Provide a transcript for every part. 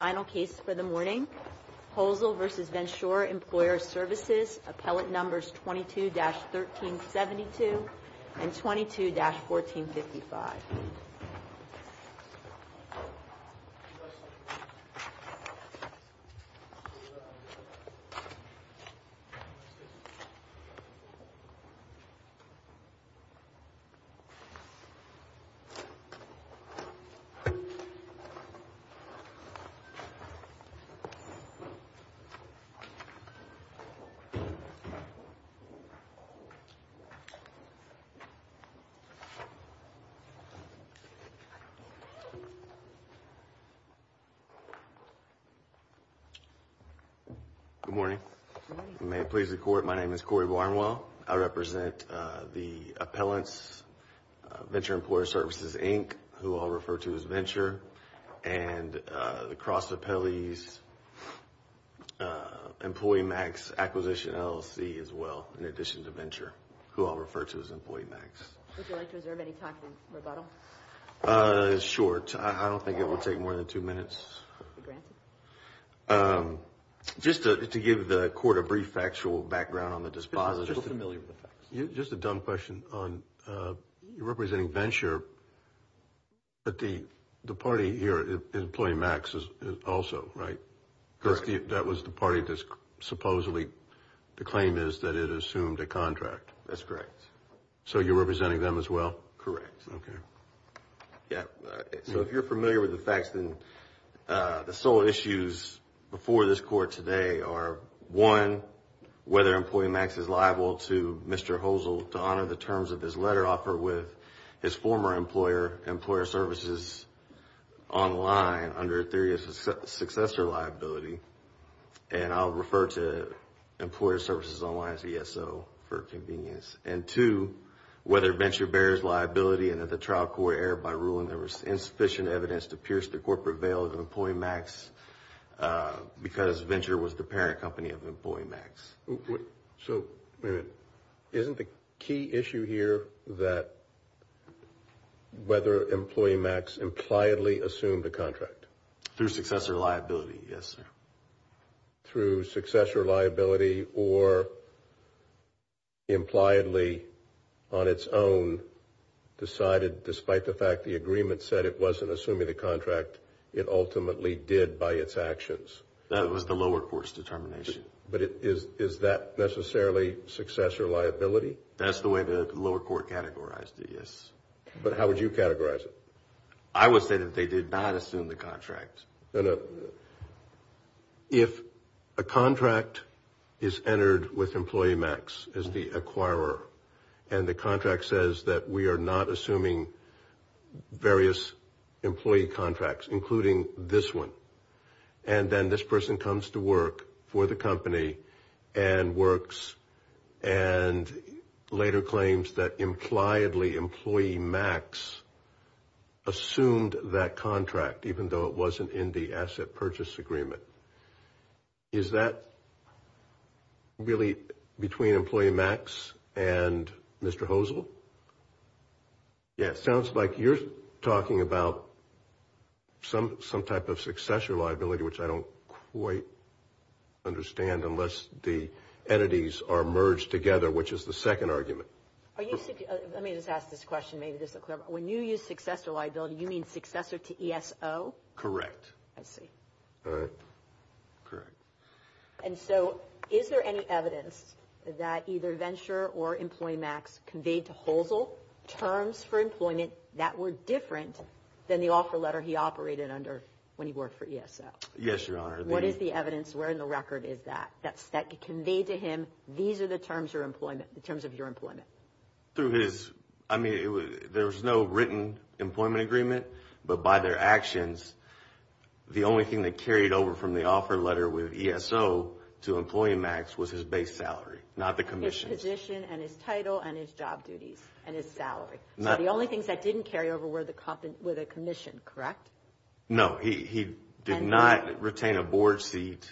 Final case for the morning, HoelzleversesVensureEmployeeServicesAppellateNumbers22-1372 and 22-1455. Good morning. May it please the Court, my name is Corey Barnwell. I represent the appellants, Venture Employee Services, Inc., who I'll refer to as Venture, and the Cross Appellees, Employee Max, Acquisition LLC, as well, in addition to Venture, who I'll refer to as Employee Max. Would you like to reserve any time for rebuttal? It's short. I don't think it will take more than two minutes. Granted. Just to give the Court a brief factual background on the disposition. Just a little familiar with the facts. Just a dumb question on, you're representing Venture, but the party here is Employee Max also, right? Correct. That was the party that supposedly, the claim is that it assumed a contract. That's correct. So you're representing them as well? Correct. Okay. So if you're familiar with the facts, then the sole issues before this Court today are, one, whether Employee Max is liable to Mr. Hosel to honor the terms of his letter offer with his former employer, Employer Services Online, under a theory of successor liability. And I'll refer to Employer Services Online as ESO for convenience. And two, whether Venture bears liability and that the trial court erred by ruling there was insufficient evidence to pierce the corporate veil of Employee Max because Venture was the parent company of Employee Max. Wait a minute. Isn't the key issue here that whether Employee Max impliedly assumed a contract? Through successor liability, yes, sir. Through successor liability or impliedly on its own decided, despite the fact the agreement said it wasn't assuming the contract, it ultimately did by its actions? That was the lower court's determination. But is that necessarily successor liability? That's the way the lower court categorized it, yes. But how would you categorize it? I would say that they did not assume the contract. No, no. If a contract is entered with Employee Max as the acquirer and the contract says that we are not assuming various employee contracts, including this one, and then this person comes to work for the company and works and later claims that impliedly Employee Max assumed that contract, even though it wasn't in the asset purchase agreement. Is that really between Employee Max and Mr. Hosel? Yes. Sounds like you're talking about some type of successor liability, which I don't quite understand, unless the entities are merged together, which is the second argument. Let me just ask this question, maybe this will clarify. When you use successor liability, you mean successor to ESO? Correct. I see. All right. Correct. And so is there any evidence that either Venture or Employee Max conveyed to Hosel terms for employment that were different than the offer letter he operated under when he worked for ESO? Yes, Your Honor. What is the evidence? Where in the record is that that conveyed to him, these are the terms of your employment? I mean, there was no written employment agreement, but by their actions, the only thing they carried over from the offer letter with ESO to Employee Max was his base salary, not the commission. His position and his title and his job duties and his salary. So the only things that didn't carry over were the commission, correct? No, he did not retain a board seat.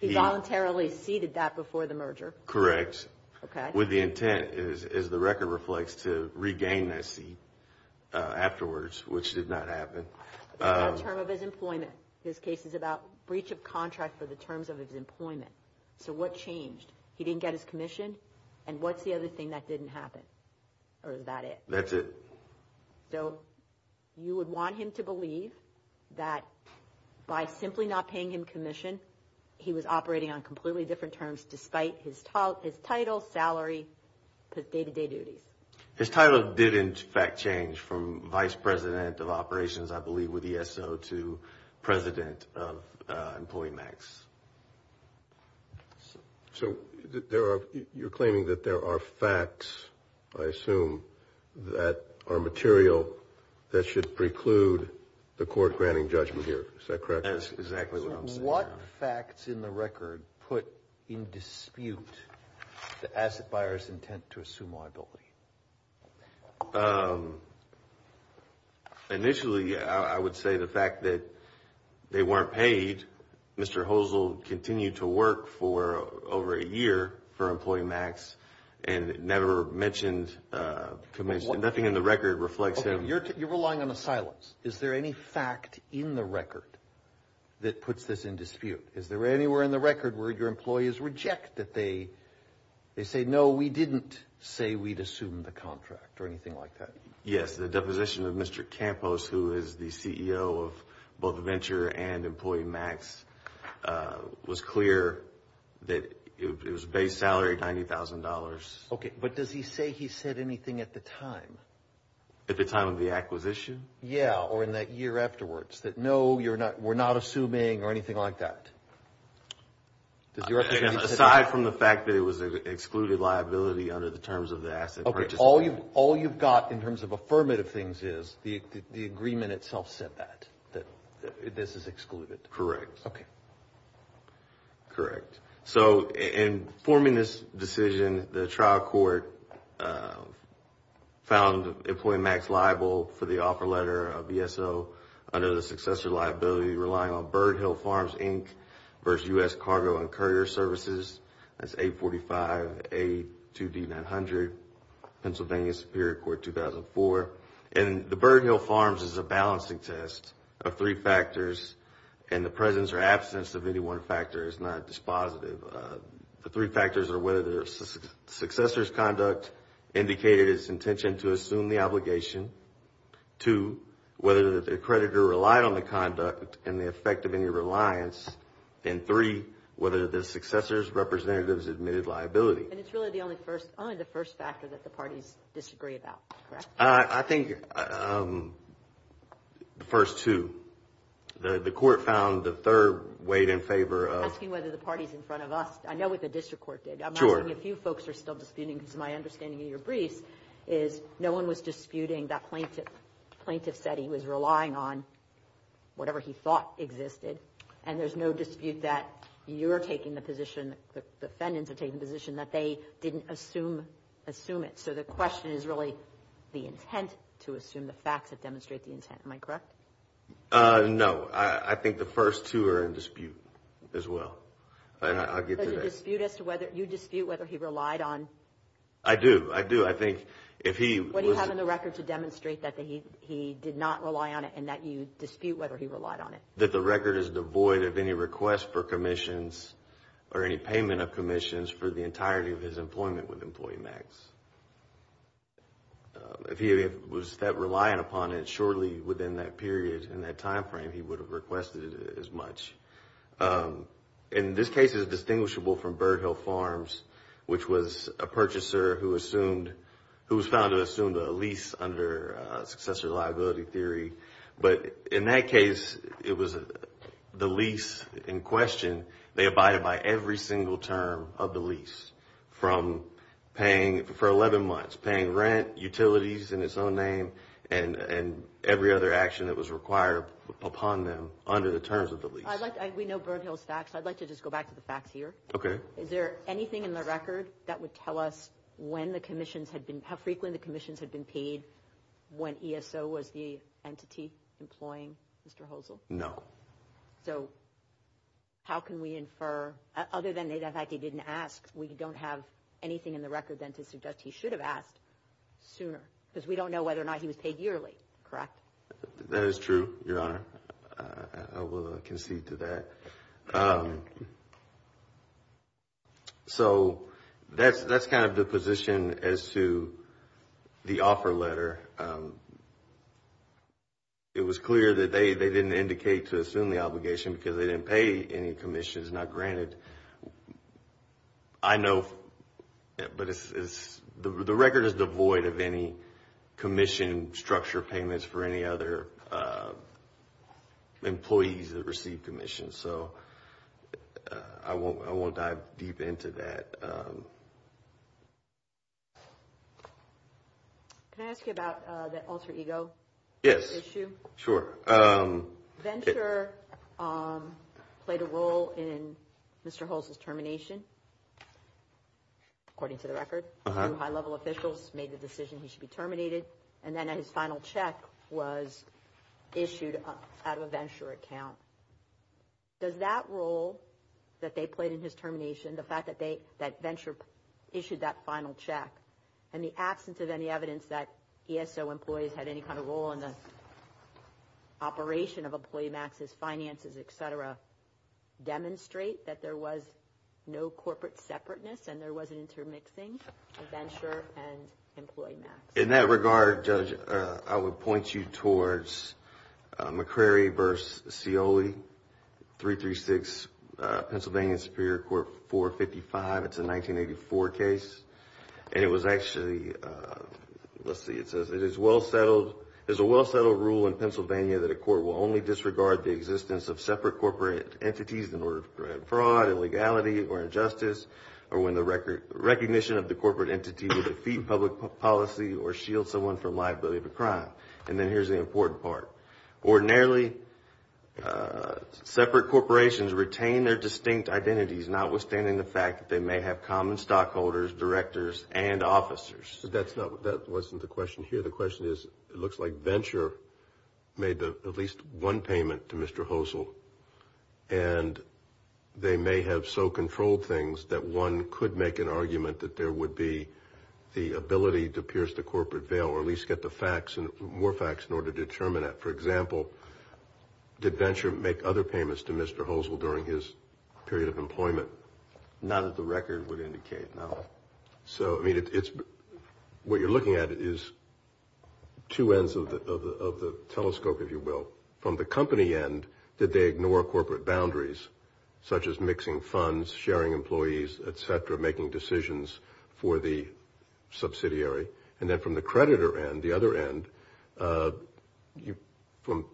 He voluntarily ceded that before the merger? Correct. Okay. With the intent, as the record reflects, to regain that seat afterwards, which did not happen. That's not a term of his employment. His case is about breach of contract for the terms of his employment. So what changed? He didn't get his commission, and what's the other thing that didn't happen? Or is that it? That's it. So you would want him to believe that by simply not paying him commission, he was operating on completely different terms despite his title, salary, day-to-day duties. His title didn't, in fact, change from vice president of operations, I believe, with ESO to president of Employee Max. So you're claiming that there are facts, I assume, that are material that should preclude the court granting judgment here. Is that correct? That's exactly what I'm saying. What facts in the record put in dispute the asset buyer's intent to assume liability? Initially, I would say the fact that they weren't paid. Mr. Hosel continued to work for over a year for Employee Max and never mentioned commission. Nothing in the record reflects him. Okay. You're relying on the silence. Is there any fact in the record that puts this in dispute? Is there anywhere in the record where your employees reject that they say, no, we didn't say we'd assume the contract or anything like that? Yes. The deposition of Mr. Campos, who is the CEO of both Venture and Employee Max, was clear that it was base salary, $90,000. Okay. But does he say he said anything at the time? At the time of the acquisition? Yes, or in that year afterwards, that no, we're not assuming or anything like that? Aside from the fact that it was an excluded liability under the terms of the asset purchase agreement. Okay. All you've got in terms of affirmative things is the agreement itself said that, that this is excluded. Correct. Okay. Correct. So in forming this decision, the trial court found Employee Max liable for the offer letter of ESO under the successor liability relying on Bird Hill Farms, Inc. versus U.S. Cargo and Courier Services. That's 845A2D900, Pennsylvania Superior Court, 2004. And the Bird Hill Farms is a balancing test of three factors, and the presence or absence of any one factor is not dispositive. The three factors are whether the successor's conduct indicated its intention to assume the obligation, two, whether the creditor relied on the conduct and the effect of any reliance, and three, whether the successor's representatives admitted liability. And it's really only the first factor that the parties disagree about, correct? I think the first two. The court found the third weighed in favor of – I'm asking whether the parties in front of us. I know what the district court did. Sure. I'm asking if you folks are still disputing, because my understanding of your briefs is no one was disputing that plaintiff. Plaintiff said he was relying on whatever he thought existed, and there's no dispute that you're taking the position, the defendants are taking the position that they didn't assume it. So the question is really the intent to assume the facts that demonstrate the intent. Am I correct? No. I think the first two are in dispute as well. I'll get to that. Does it dispute as to whether – you dispute whether he relied on – I do. I do. I think if he was – What do you have in the record to demonstrate that he did not rely on it and that you dispute whether he relied on it? That the record is devoid of any request for commissions or any payment of commissions for the entirety of his employment with Employee Max. If he was reliant upon it shortly within that period and that time frame, he would have requested it as much. In this case, it's distinguishable from Bird Hill Farms, which was a purchaser who assumed – who was found to have assumed a lease under successor liability theory. But in that case, it was the lease in question. They abided by every single term of the lease from paying – for 11 months, paying rent, utilities in its own name, and every other action that was required upon them under the terms of the lease. We know Bird Hill's facts. I'd like to just go back to the facts here. Okay. Is there anything in the record that would tell us when the commissions had been – how frequently the commissions had been paid when ESO was the entity employing Mr. Hosel? No. So how can we infer – other than the fact he didn't ask, we don't have anything in the record then to suggest he should have asked sooner because we don't know whether or not he was paid yearly, correct? That is true, Your Honor. I will concede to that. So that's kind of the position as to the offer letter. It was clear that they didn't indicate to assume the obligation because they didn't pay any commissions, not granted. I know – but it's – the record is devoid of any commission structure payments for any other employees that receive commissions. So I won't dive deep into that. Can I ask you about the alter ego issue? Yes, sure. Venture played a role in Mr. Hosel's termination, according to the record. Two high-level officials made the decision he should be terminated. And then his final check was issued out of a Venture account. Does that role that they played in his termination, the fact that Venture issued that final check, and the absence of any evidence that ESO employees had any kind of role in the operation of Employee Max's finances, et cetera, demonstrate that there was no corporate separateness and there was an intermixing of Venture and Employee Max? In that regard, Judge, I would point you towards McCrary v. Scioli, 336 Pennsylvania Superior Court 455. It's a 1984 case, and it was actually – let's see, it says, it is a well-settled rule in Pennsylvania that a court will only disregard the existence of separate corporate entities in order to prevent fraud, illegality, or injustice, or when the recognition of the corporate entity will defeat public policy or shield someone from liability of a crime. And then here's the important part. Ordinarily, separate corporations retain their distinct identities, notwithstanding the fact that they may have common stockholders, directors, and officers. But that's not – that wasn't the question here. The question is, it looks like Venture made at least one payment to Mr. Hosel, and they may have so controlled things that one could make an argument that there would be the ability to pierce the corporate veil or at least get the facts – more facts in order to determine it. For example, did Venture make other payments to Mr. Hosel during his period of employment? None of the record would indicate, no. So, I mean, it's – what you're looking at is two ends of the telescope, if you will. From the company end, did they ignore corporate boundaries, such as mixing funds, sharing employees, et cetera, making decisions for the subsidiary? And then from the creditor end, the other end,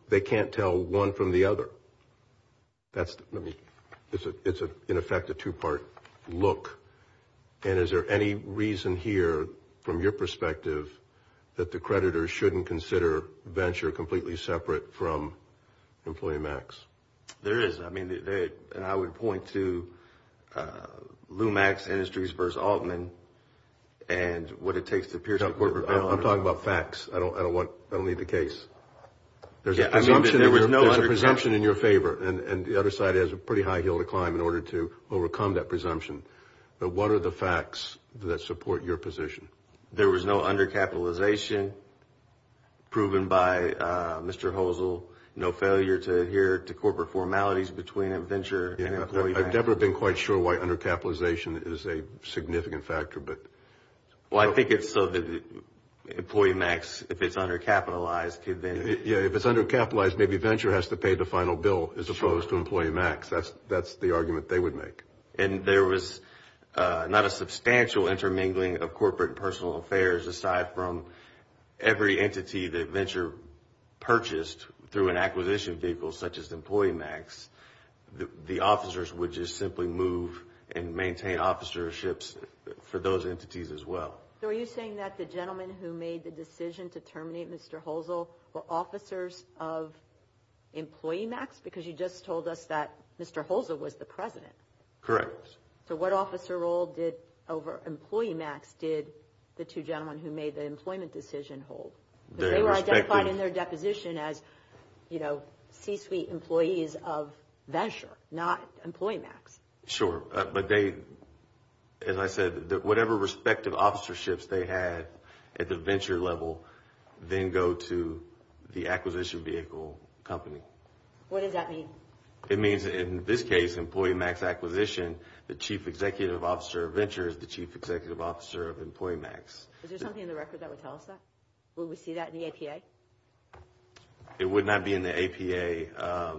they can't tell one from the other. That's – let me – it's, in effect, a two-part look. And is there any reason here, from your perspective, that the creditors shouldn't consider Venture completely separate from Employee Max? There is. And I would point to Lumax Industries versus Altman and what it takes to pierce the corporate veil. I'm talking about facts. I don't want – I don't need the case. There's a presumption in your favor, and the other side has a pretty high hill to climb in order to overcome that presumption. But what are the facts that support your position? There was no undercapitalization proven by Mr. Hosel, no failure to adhere to corporate formalities between Venture and Employee Max. I've never been quite sure why undercapitalization is a significant factor, but – Well, I think it's so that Employee Max, if it's undercapitalized, could then – Yeah, if it's undercapitalized, maybe Venture has to pay the final bill as opposed to Employee Max. That's the argument they would make. And there was not a substantial intermingling of corporate and personal affairs, aside from every entity that Venture purchased through an acquisition vehicle such as Employee Max. The officers would just simply move and maintain officerships for those entities as well. So are you saying that the gentlemen who made the decision to terminate Mr. Hosel were officers of Employee Max? Because you just told us that Mr. Hosel was the president. Correct. So what officer role over Employee Max did the two gentlemen who made the employment decision hold? Because they were identified in their deposition as C-suite employees of Venture, not Employee Max. Sure, but they – as I said, whatever respective officerships they had at the Venture level then go to the acquisition vehicle company. What does that mean? It means in this case, Employee Max acquisition, the chief executive officer of Venture is the chief executive officer of Employee Max. Is there something in the record that would tell us that? Will we see that in the APA? It would not be in the APA.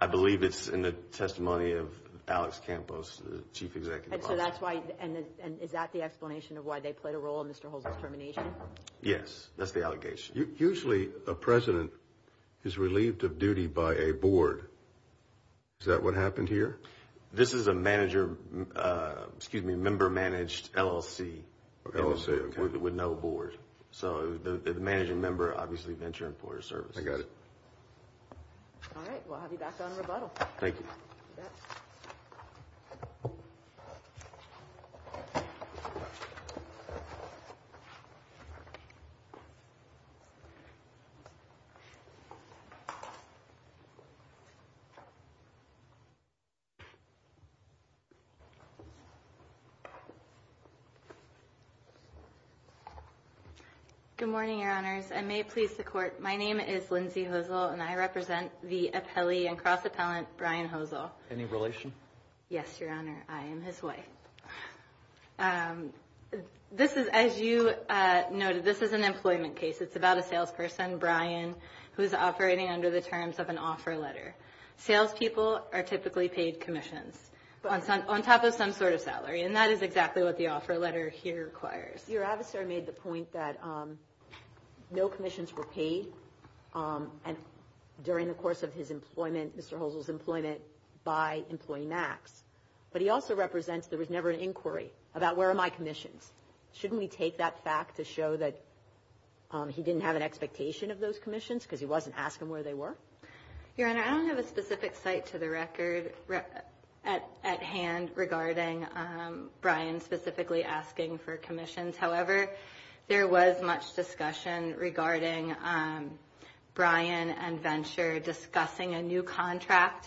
I believe it's in the testimony of Alex Campos, the chief executive officer. And so that's why – and is that the explanation of why they played a role in Mr. Hosel's termination? Yes, that's the allegation. Usually a president is relieved of duty by a board. Is that what happened here? This is a manager – excuse me, member-managed LLC. LLC, okay. With no board. So the managing member obviously Venture Employer Services. I got it. All right. We'll have you back on rebuttal. Thank you. You bet. Good morning, Your Honors. I may please the Court. My name is Lindsay Hosel, and I represent the appellee and cross-appellant Brian Hosel. Any relation? Yes, Your Honor. I am his wife. This is – as you noted, this is an employment case. It's about a salesperson, Brian, who is operating under the terms of an offer letter. Salespeople are typically paid commissions on top of some sort of salary, and that is exactly what the offer letter here requires. Your adversary made the point that no commissions were paid during the course of his employment, Mr. Hosel's employment, by Employee Max. But he also represents there was never an inquiry about where are my commissions. Shouldn't we take that fact to show that he didn't have an expectation of those commissions because he wasn't asking where they were? Your Honor, I don't have a specific site to the record at hand regarding Brian specifically asking for commissions. However, there was much discussion regarding Brian and Venture discussing a new contract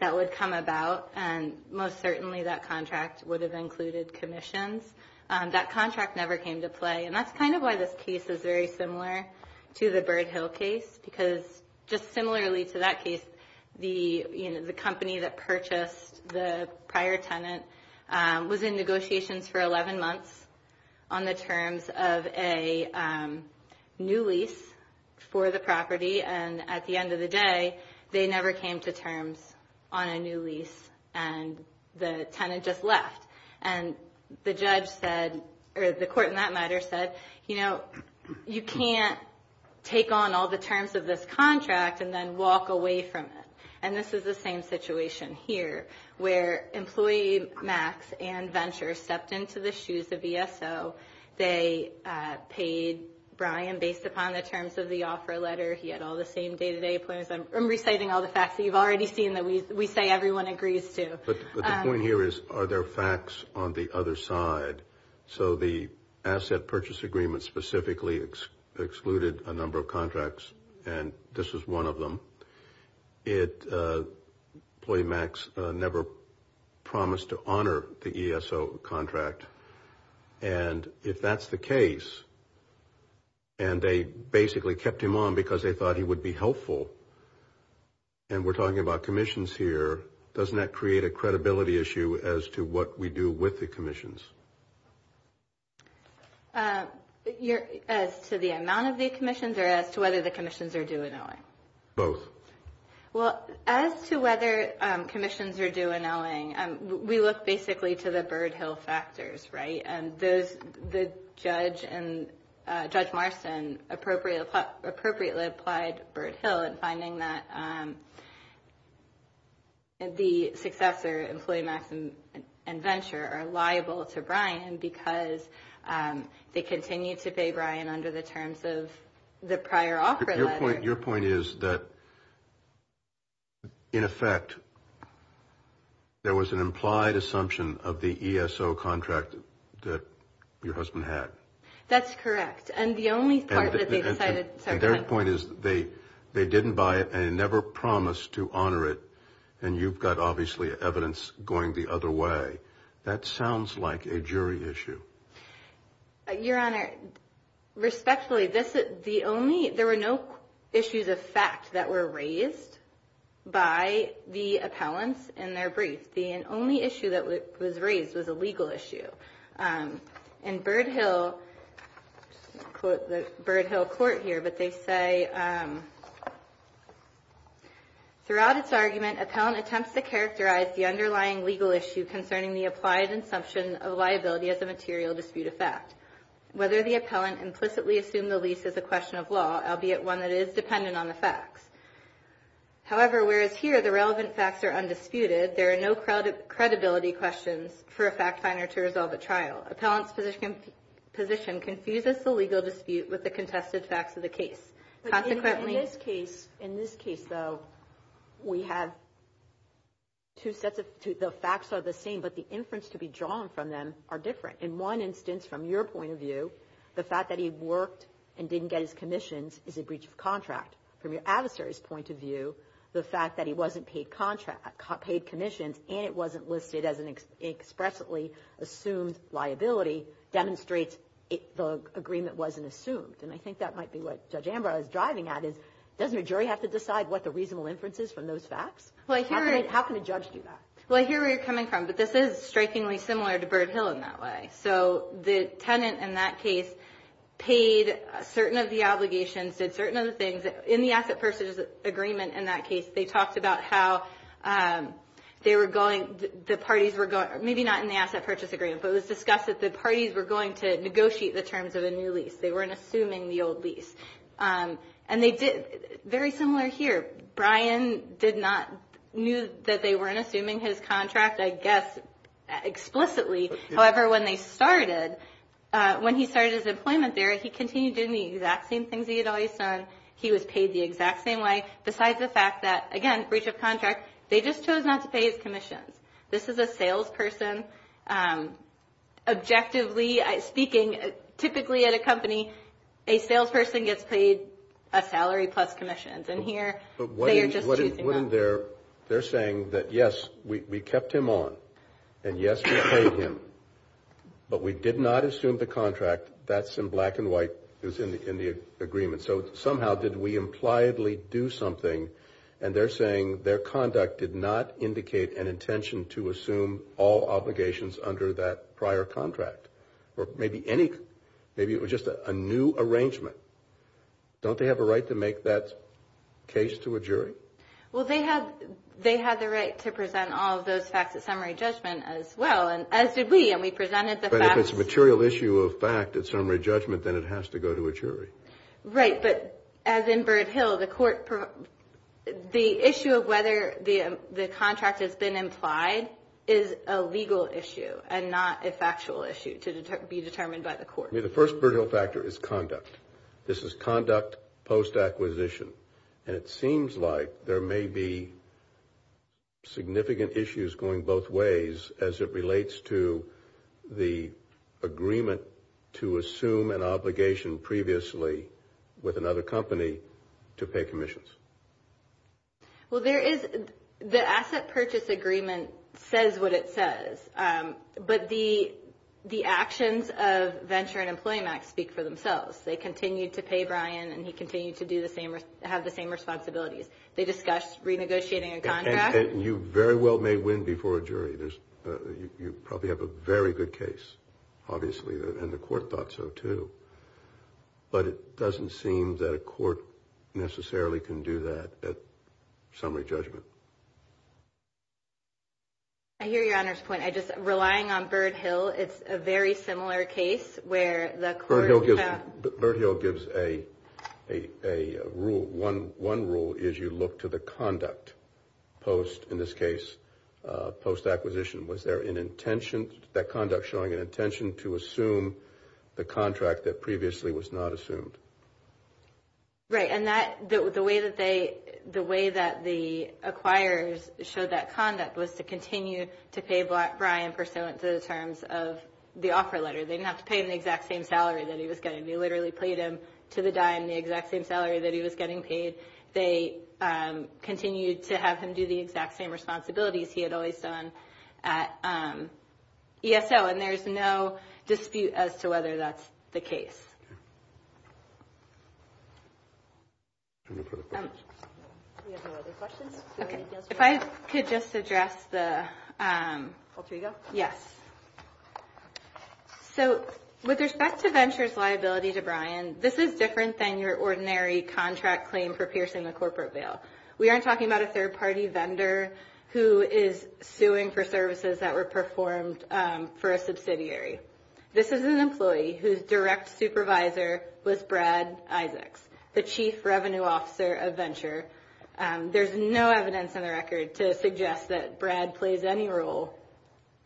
that would come about, and most certainly that contract would have included commissions. That contract never came to play, and that's kind of why this case is very similar to the Bird Hill case because just similarly to that case, the company that purchased the prior tenant was in negotiations for 11 months on the terms of a new lease for the property, and at the end of the day, they never came to terms on a new lease, and the tenant just left. And the judge said, or the court in that matter said, you know, you can't take on all the terms of this contract and then walk away from it. And this is the same situation here where Employee Max and Venture stepped into the shoes of ESO. They paid Brian based upon the terms of the offer letter. He had all the same day-to-day appointments. I'm reciting all the facts that you've already seen that we say everyone agrees to. But the point here is, are there facts on the other side? So the asset purchase agreement specifically excluded a number of contracts, and this was one of them. Employee Max never promised to honor the ESO contract. And if that's the case, and they basically kept him on because they thought he would be helpful, and we're talking about commissions here, doesn't that create a credibility issue as to what we do with the commissions? As to the amount of the commissions or as to whether the commissions are due in LA? Both. Well, as to whether commissions are due in LA, we look basically to the Bird Hill factors, right? And Judge Marston appropriately applied Bird Hill in finding that the successor, Employee Max and Venture, are liable to Brian because they continue to pay Brian under the terms of the prior offer letter. Your point is that, in effect, there was an implied assumption of the ESO contract that your husband had. That's correct. And their point is they didn't buy it and never promised to honor it, and you've got obviously evidence going the other way. That sounds like a jury issue. Your Honor, respectfully, there were no issues of fact that were raised by the appellants in their brief. The only issue that was raised was a legal issue. In Bird Hill, I'll quote the Bird Hill court here, but they say, Throughout its argument, appellant attempts to characterize the underlying legal issue concerning the applied assumption of liability as a material dispute of fact. Whether the appellant implicitly assumed the lease is a question of law, albeit one that is dependent on the facts. However, whereas here the relevant facts are undisputed, there are no credibility questions for a fact finder to resolve at trial. Appellant's position confuses the legal dispute with the contested facts of the case. In this case, though, we have two sets of – the facts are the same, but the inference to be drawn from them are different. In one instance, from your point of view, the fact that he worked and didn't get his commissions is a breach of contract. From your adversary's point of view, the fact that he wasn't paid commissions and it wasn't listed as an expressly assumed liability demonstrates the agreement wasn't assumed. And I think that might be what Judge Ambrose is driving at, is doesn't a jury have to decide what the reasonable inference is from those facts? How can a judge do that? Well, I hear where you're coming from, but this is strikingly similar to Bird Hill in that way. So the tenant in that case paid certain of the obligations, did certain of the things. In the asset purchase agreement in that case, they talked about how they were going – the parties were going – maybe not in the asset purchase agreement, but it was discussed that the parties were going to negotiate the terms of a new lease. They weren't assuming the old lease. And they did – very similar here. Brian did not – knew that they weren't assuming his contract, I guess, explicitly. However, when they started – when he started his employment there, he continued doing the exact same things he had always done. He was paid the exact same way. Besides the fact that, again, breach of contract, they just chose not to pay his commissions. This is a salesperson. Objectively speaking, typically at a company, a salesperson gets paid a salary plus commissions. And here, they are just choosing that. But wouldn't their – they're saying that, yes, we kept him on and, yes, we paid him, but we did not assume the contract. That's in black and white. It was in the agreement. So somehow, did we impliedly do something? And they're saying their conduct did not indicate an intention to assume all obligations under that prior contract. Or maybe any – maybe it was just a new arrangement. Don't they have a right to make that case to a jury? Well, they have the right to present all of those facts at summary judgment as well, as did we. And we presented the facts. But if it's a material issue of fact at summary judgment, then it has to go to a jury. Right. But as in Bird Hill, the court – the issue of whether the contract has been implied is a legal issue and not a factual issue to be determined by the court. I mean, the first Bird Hill factor is conduct. This is conduct post-acquisition. And it seems like there may be significant issues going both ways as it relates to the agreement to assume an obligation previously with another company to pay commissions. Well, there is – the asset purchase agreement says what it says. But the actions of Venture and Employment Act speak for themselves. They continue to pay Brian, and he continues to do the same – have the same responsibilities. They discuss renegotiating a contract. And you very well may win before a jury. You probably have a very good case, obviously, and the court thought so too. But it doesn't seem that a court necessarily can do that at summary judgment. I hear Your Honor's point. I just – relying on Bird Hill, it's a very similar case where the court – Bird Hill gives a rule. One rule is you look to the conduct post – in this case, post-acquisition. Was there an intention – that conduct showing an intention to assume the contract that previously was not assumed? Right. And that – the way that they – the way that the acquirers showed that conduct was to continue to pay Brian pursuant to the terms of the offer letter. They didn't have to pay him the exact same salary that he was getting. They literally paid him to the dime the exact same salary that he was getting paid. They continued to have him do the exact same responsibilities he had always done at ESO. And there's no dispute as to whether that's the case. Okay. Can we move to the questions? We have no other questions. Okay. If I could just address the – I'll let you go. Yes. So with respect to Venture's liability to Brian, this is different than your ordinary contract claim for piercing a corporate bail. We aren't talking about a third-party vendor who is suing for services that were performed for a subsidiary. This is an employee whose direct supervisor was Brad Isaacs, the chief revenue officer of Venture. There's no evidence on the record to suggest that Brad plays any role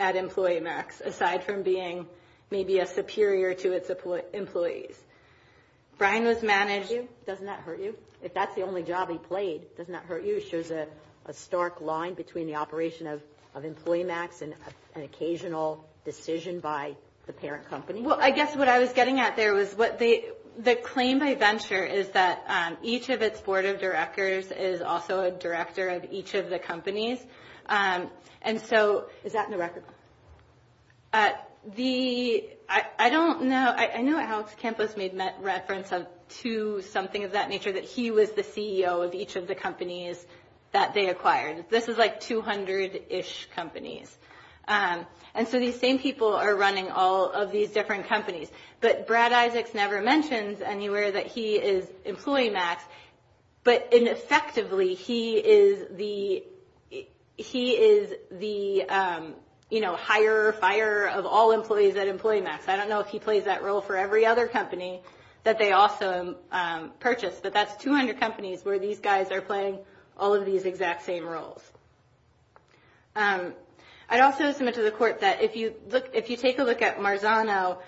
at EmployeeMax, aside from being maybe a superior to its employees. Brian was managed – Doesn't that hurt you? If that's the only job he played, doesn't that hurt you? It shows a stark line between the operation of EmployeeMax and an occasional decision by the parent company. Well, I guess what I was getting at there was the claim by Venture is that each of its board of directors is also a director of each of the companies. And so – Is that in the record? I don't know. I know Alex Campos made reference to something of that nature, that he was the CEO of each of the companies that they acquired. This is like 200-ish companies. And so these same people are running all of these different companies. But Brad Isaacs never mentions anywhere that he is EmployeeMax. But effectively, he is the hire-fire of all employees at EmployeeMax. I don't know if he plays that role for every other company that they also purchase. But that's 200 companies where these guys are playing all of these exact same roles. I'd also submit to the court that if you take a look at Marzano,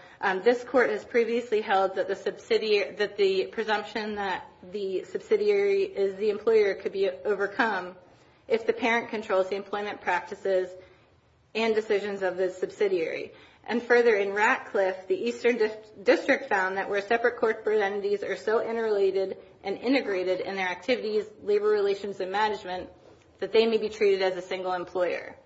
this court has previously held that the presumption that the subsidiary is the employer could be overcome if the parent controls the employment practices and decisions of the subsidiary. And further, in Ratcliffe, the Eastern District found that where separate corporate entities are so interrelated and integrated in their activities, labor relations and management, that they may be treated as a single employer.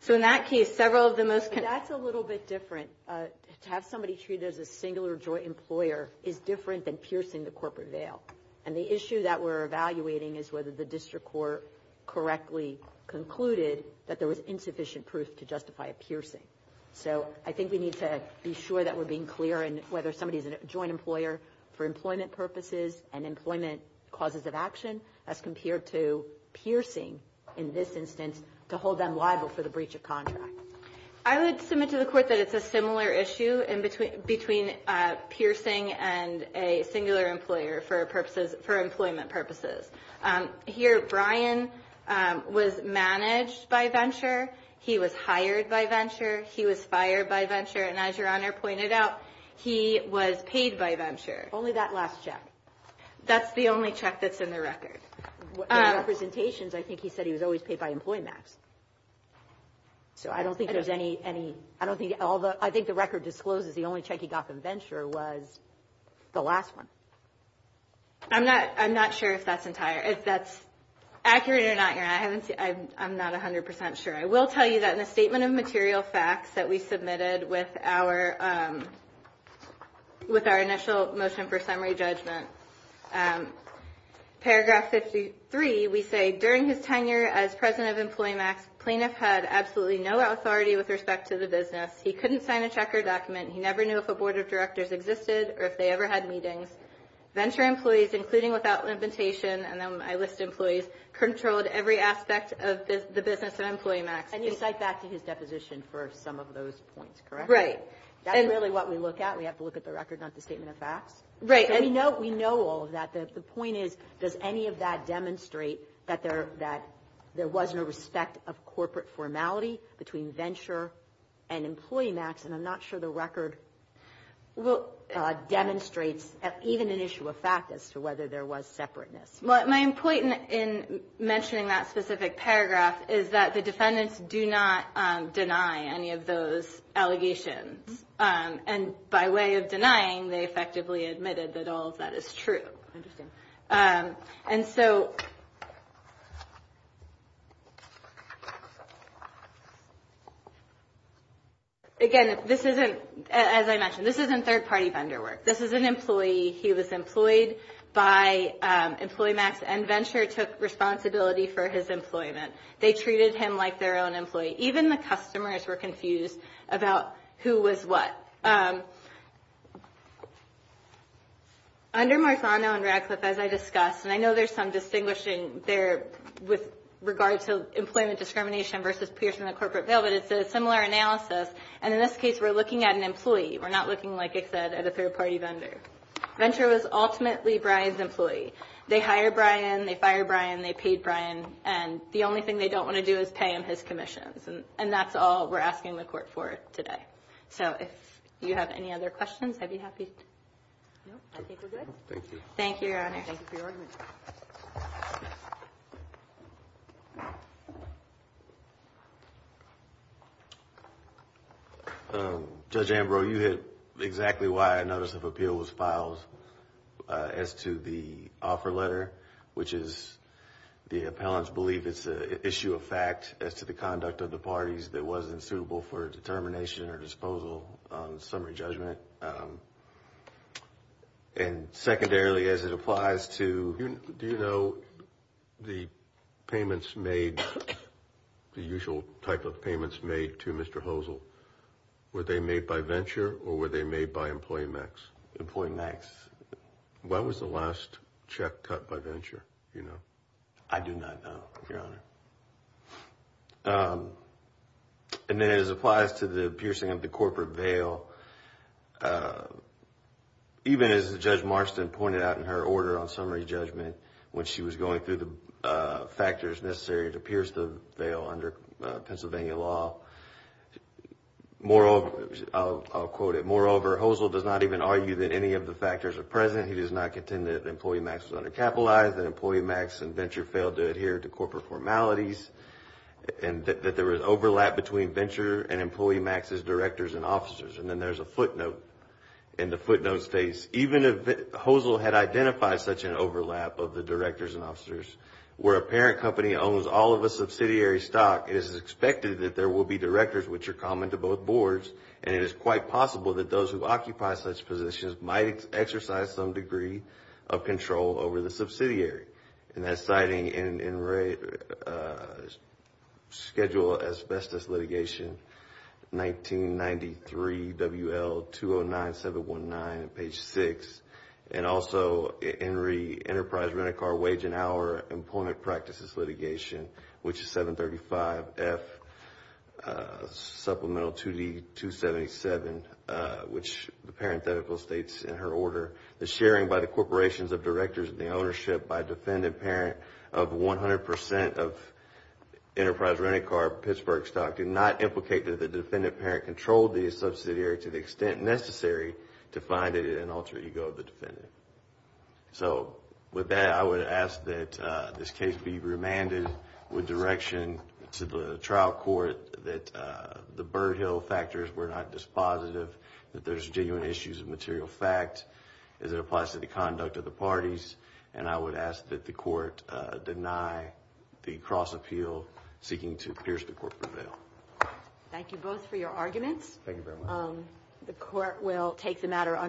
So in that case, several of the most – That's a little bit different. To have somebody treated as a single or joint employer is different than piercing the corporate veil. And the issue that we're evaluating is whether the district court correctly concluded that there was insufficient proof to justify a piercing. So I think we need to be sure that we're being clear in whether somebody is a joint employer for employment purposes and employment causes of action as compared to piercing in this instance to hold them liable for the breach of contract. I would submit to the court that it's a similar issue between piercing and a singular employer for employment purposes. Here, Brian was managed by Venture. He was hired by Venture. He was fired by Venture. And as Your Honor pointed out, he was paid by Venture. Only that last check. That's the only check that's in the record. In the representations, I think he said he was always paid by EmployMax. So I don't think there's any – I think the record discloses the only check he got from Venture was the last one. I'm not sure if that's accurate or not, Your Honor. I'm not 100 percent sure. I will tell you that in the statement of material facts that we submitted with our initial motion for summary judgment, Paragraph 53, we say, During his tenure as president of EmployMax, Plaintiff had absolutely no authority with respect to the business. He couldn't sign a check or document. He never knew if a board of directors existed or if they ever had meetings. Venture employees, including without limitation, and then my list of employees, controlled every aspect of the business at EmployMax. And you cite that to his deposition for some of those points, correct? Right. That's really what we look at. We have to look at the record, not the statement of facts. Right. And we know all of that. The point is, does any of that demonstrate that there was no respect of corporate formality between Venture and EmployMax? And I'm not sure the record demonstrates even an issue of fact as to whether there was separateness. My point in mentioning that specific paragraph is that the defendants do not deny any of those allegations. And by way of denying, they effectively admitted that all of that is true. Interesting. And so, again, this isn't, as I mentioned, this isn't third-party vendor work. This is an employee. He was employed by EmployMax, and Venture took responsibility for his employment. They treated him like their own employee. Even the customers were confused about who was what. Under Marzano and Radcliffe, as I discussed, and I know there's some distinguishing there with regard to employment discrimination versus piercing the corporate veil, but it's a similar analysis. And in this case, we're looking at an employee. We're not looking, like I said, at a third-party vendor. Venture was ultimately Brian's employee. They hired Brian. They fired Brian. They paid Brian. And the only thing they don't want to do is pay him his commissions, and that's all we're asking the court for today. Okay. So if you have any other questions, I'd be happy to. No, I think we're good. Thank you. Thank you, Your Honor. Thank you for your argument. Judge Ambrose, you hit exactly why a notice of appeal was filed as to the offer letter, which is the appellants believe it's an issue of fact as to the conduct of the parties that wasn't suitable for determination or disposal on summary judgment. And secondarily, as it applies to – Do you know the payments made, the usual type of payments made to Mr. Hosel, were they made by Venture or were they made by Employee Max? Employee Max. When was the last check cut by Venture? I do not know, Your Honor. And then as it applies to the piercing of the corporate veil, even as Judge Marston pointed out in her order on summary judgment, when she was going through the factors necessary to pierce the veil under Pennsylvania law, I'll quote it, moreover, Hosel does not even argue that any of the factors are present. He does not contend that Employee Max was undercapitalized, that Employee Max and Venture failed to adhere to corporate formalities, and that there was overlap between Venture and Employee Max's directors and officers. And then there's a footnote, and the footnote states, even if Hosel had identified such an overlap of the directors and officers, where a parent company owns all of the subsidiary stock, it is expected that there will be directors which are common to both boards, and it is quite possible that those who occupy such positions might exercise some degree of control over the subsidiary. And that's citing in schedule asbestos litigation, 1993 W.L. 209719, page 6, and also Henry Enterprise Rent-A-Car Wage and Hour Employment Practices litigation, which is 735F Supplemental 2D 277, which the parenthetical states in her order, the sharing by the corporations of directors of the ownership by a defendant parent of 100% of Enterprise Rent-A-Car Pittsburgh stock did not implicate that the defendant parent controlled the subsidiary to the extent necessary to find it in an alter ego of the defendant. So with that, I would ask that this case be remanded with direction to the trial court that the Birdhill factors were not dispositive, that there's genuine issues of material fact as it applies to the conduct of the parties, and I would ask that the court deny the cross-appeal seeking to pierce the corporate veil. Thank you both for your arguments. Thank you very much. The court will take the matter under review.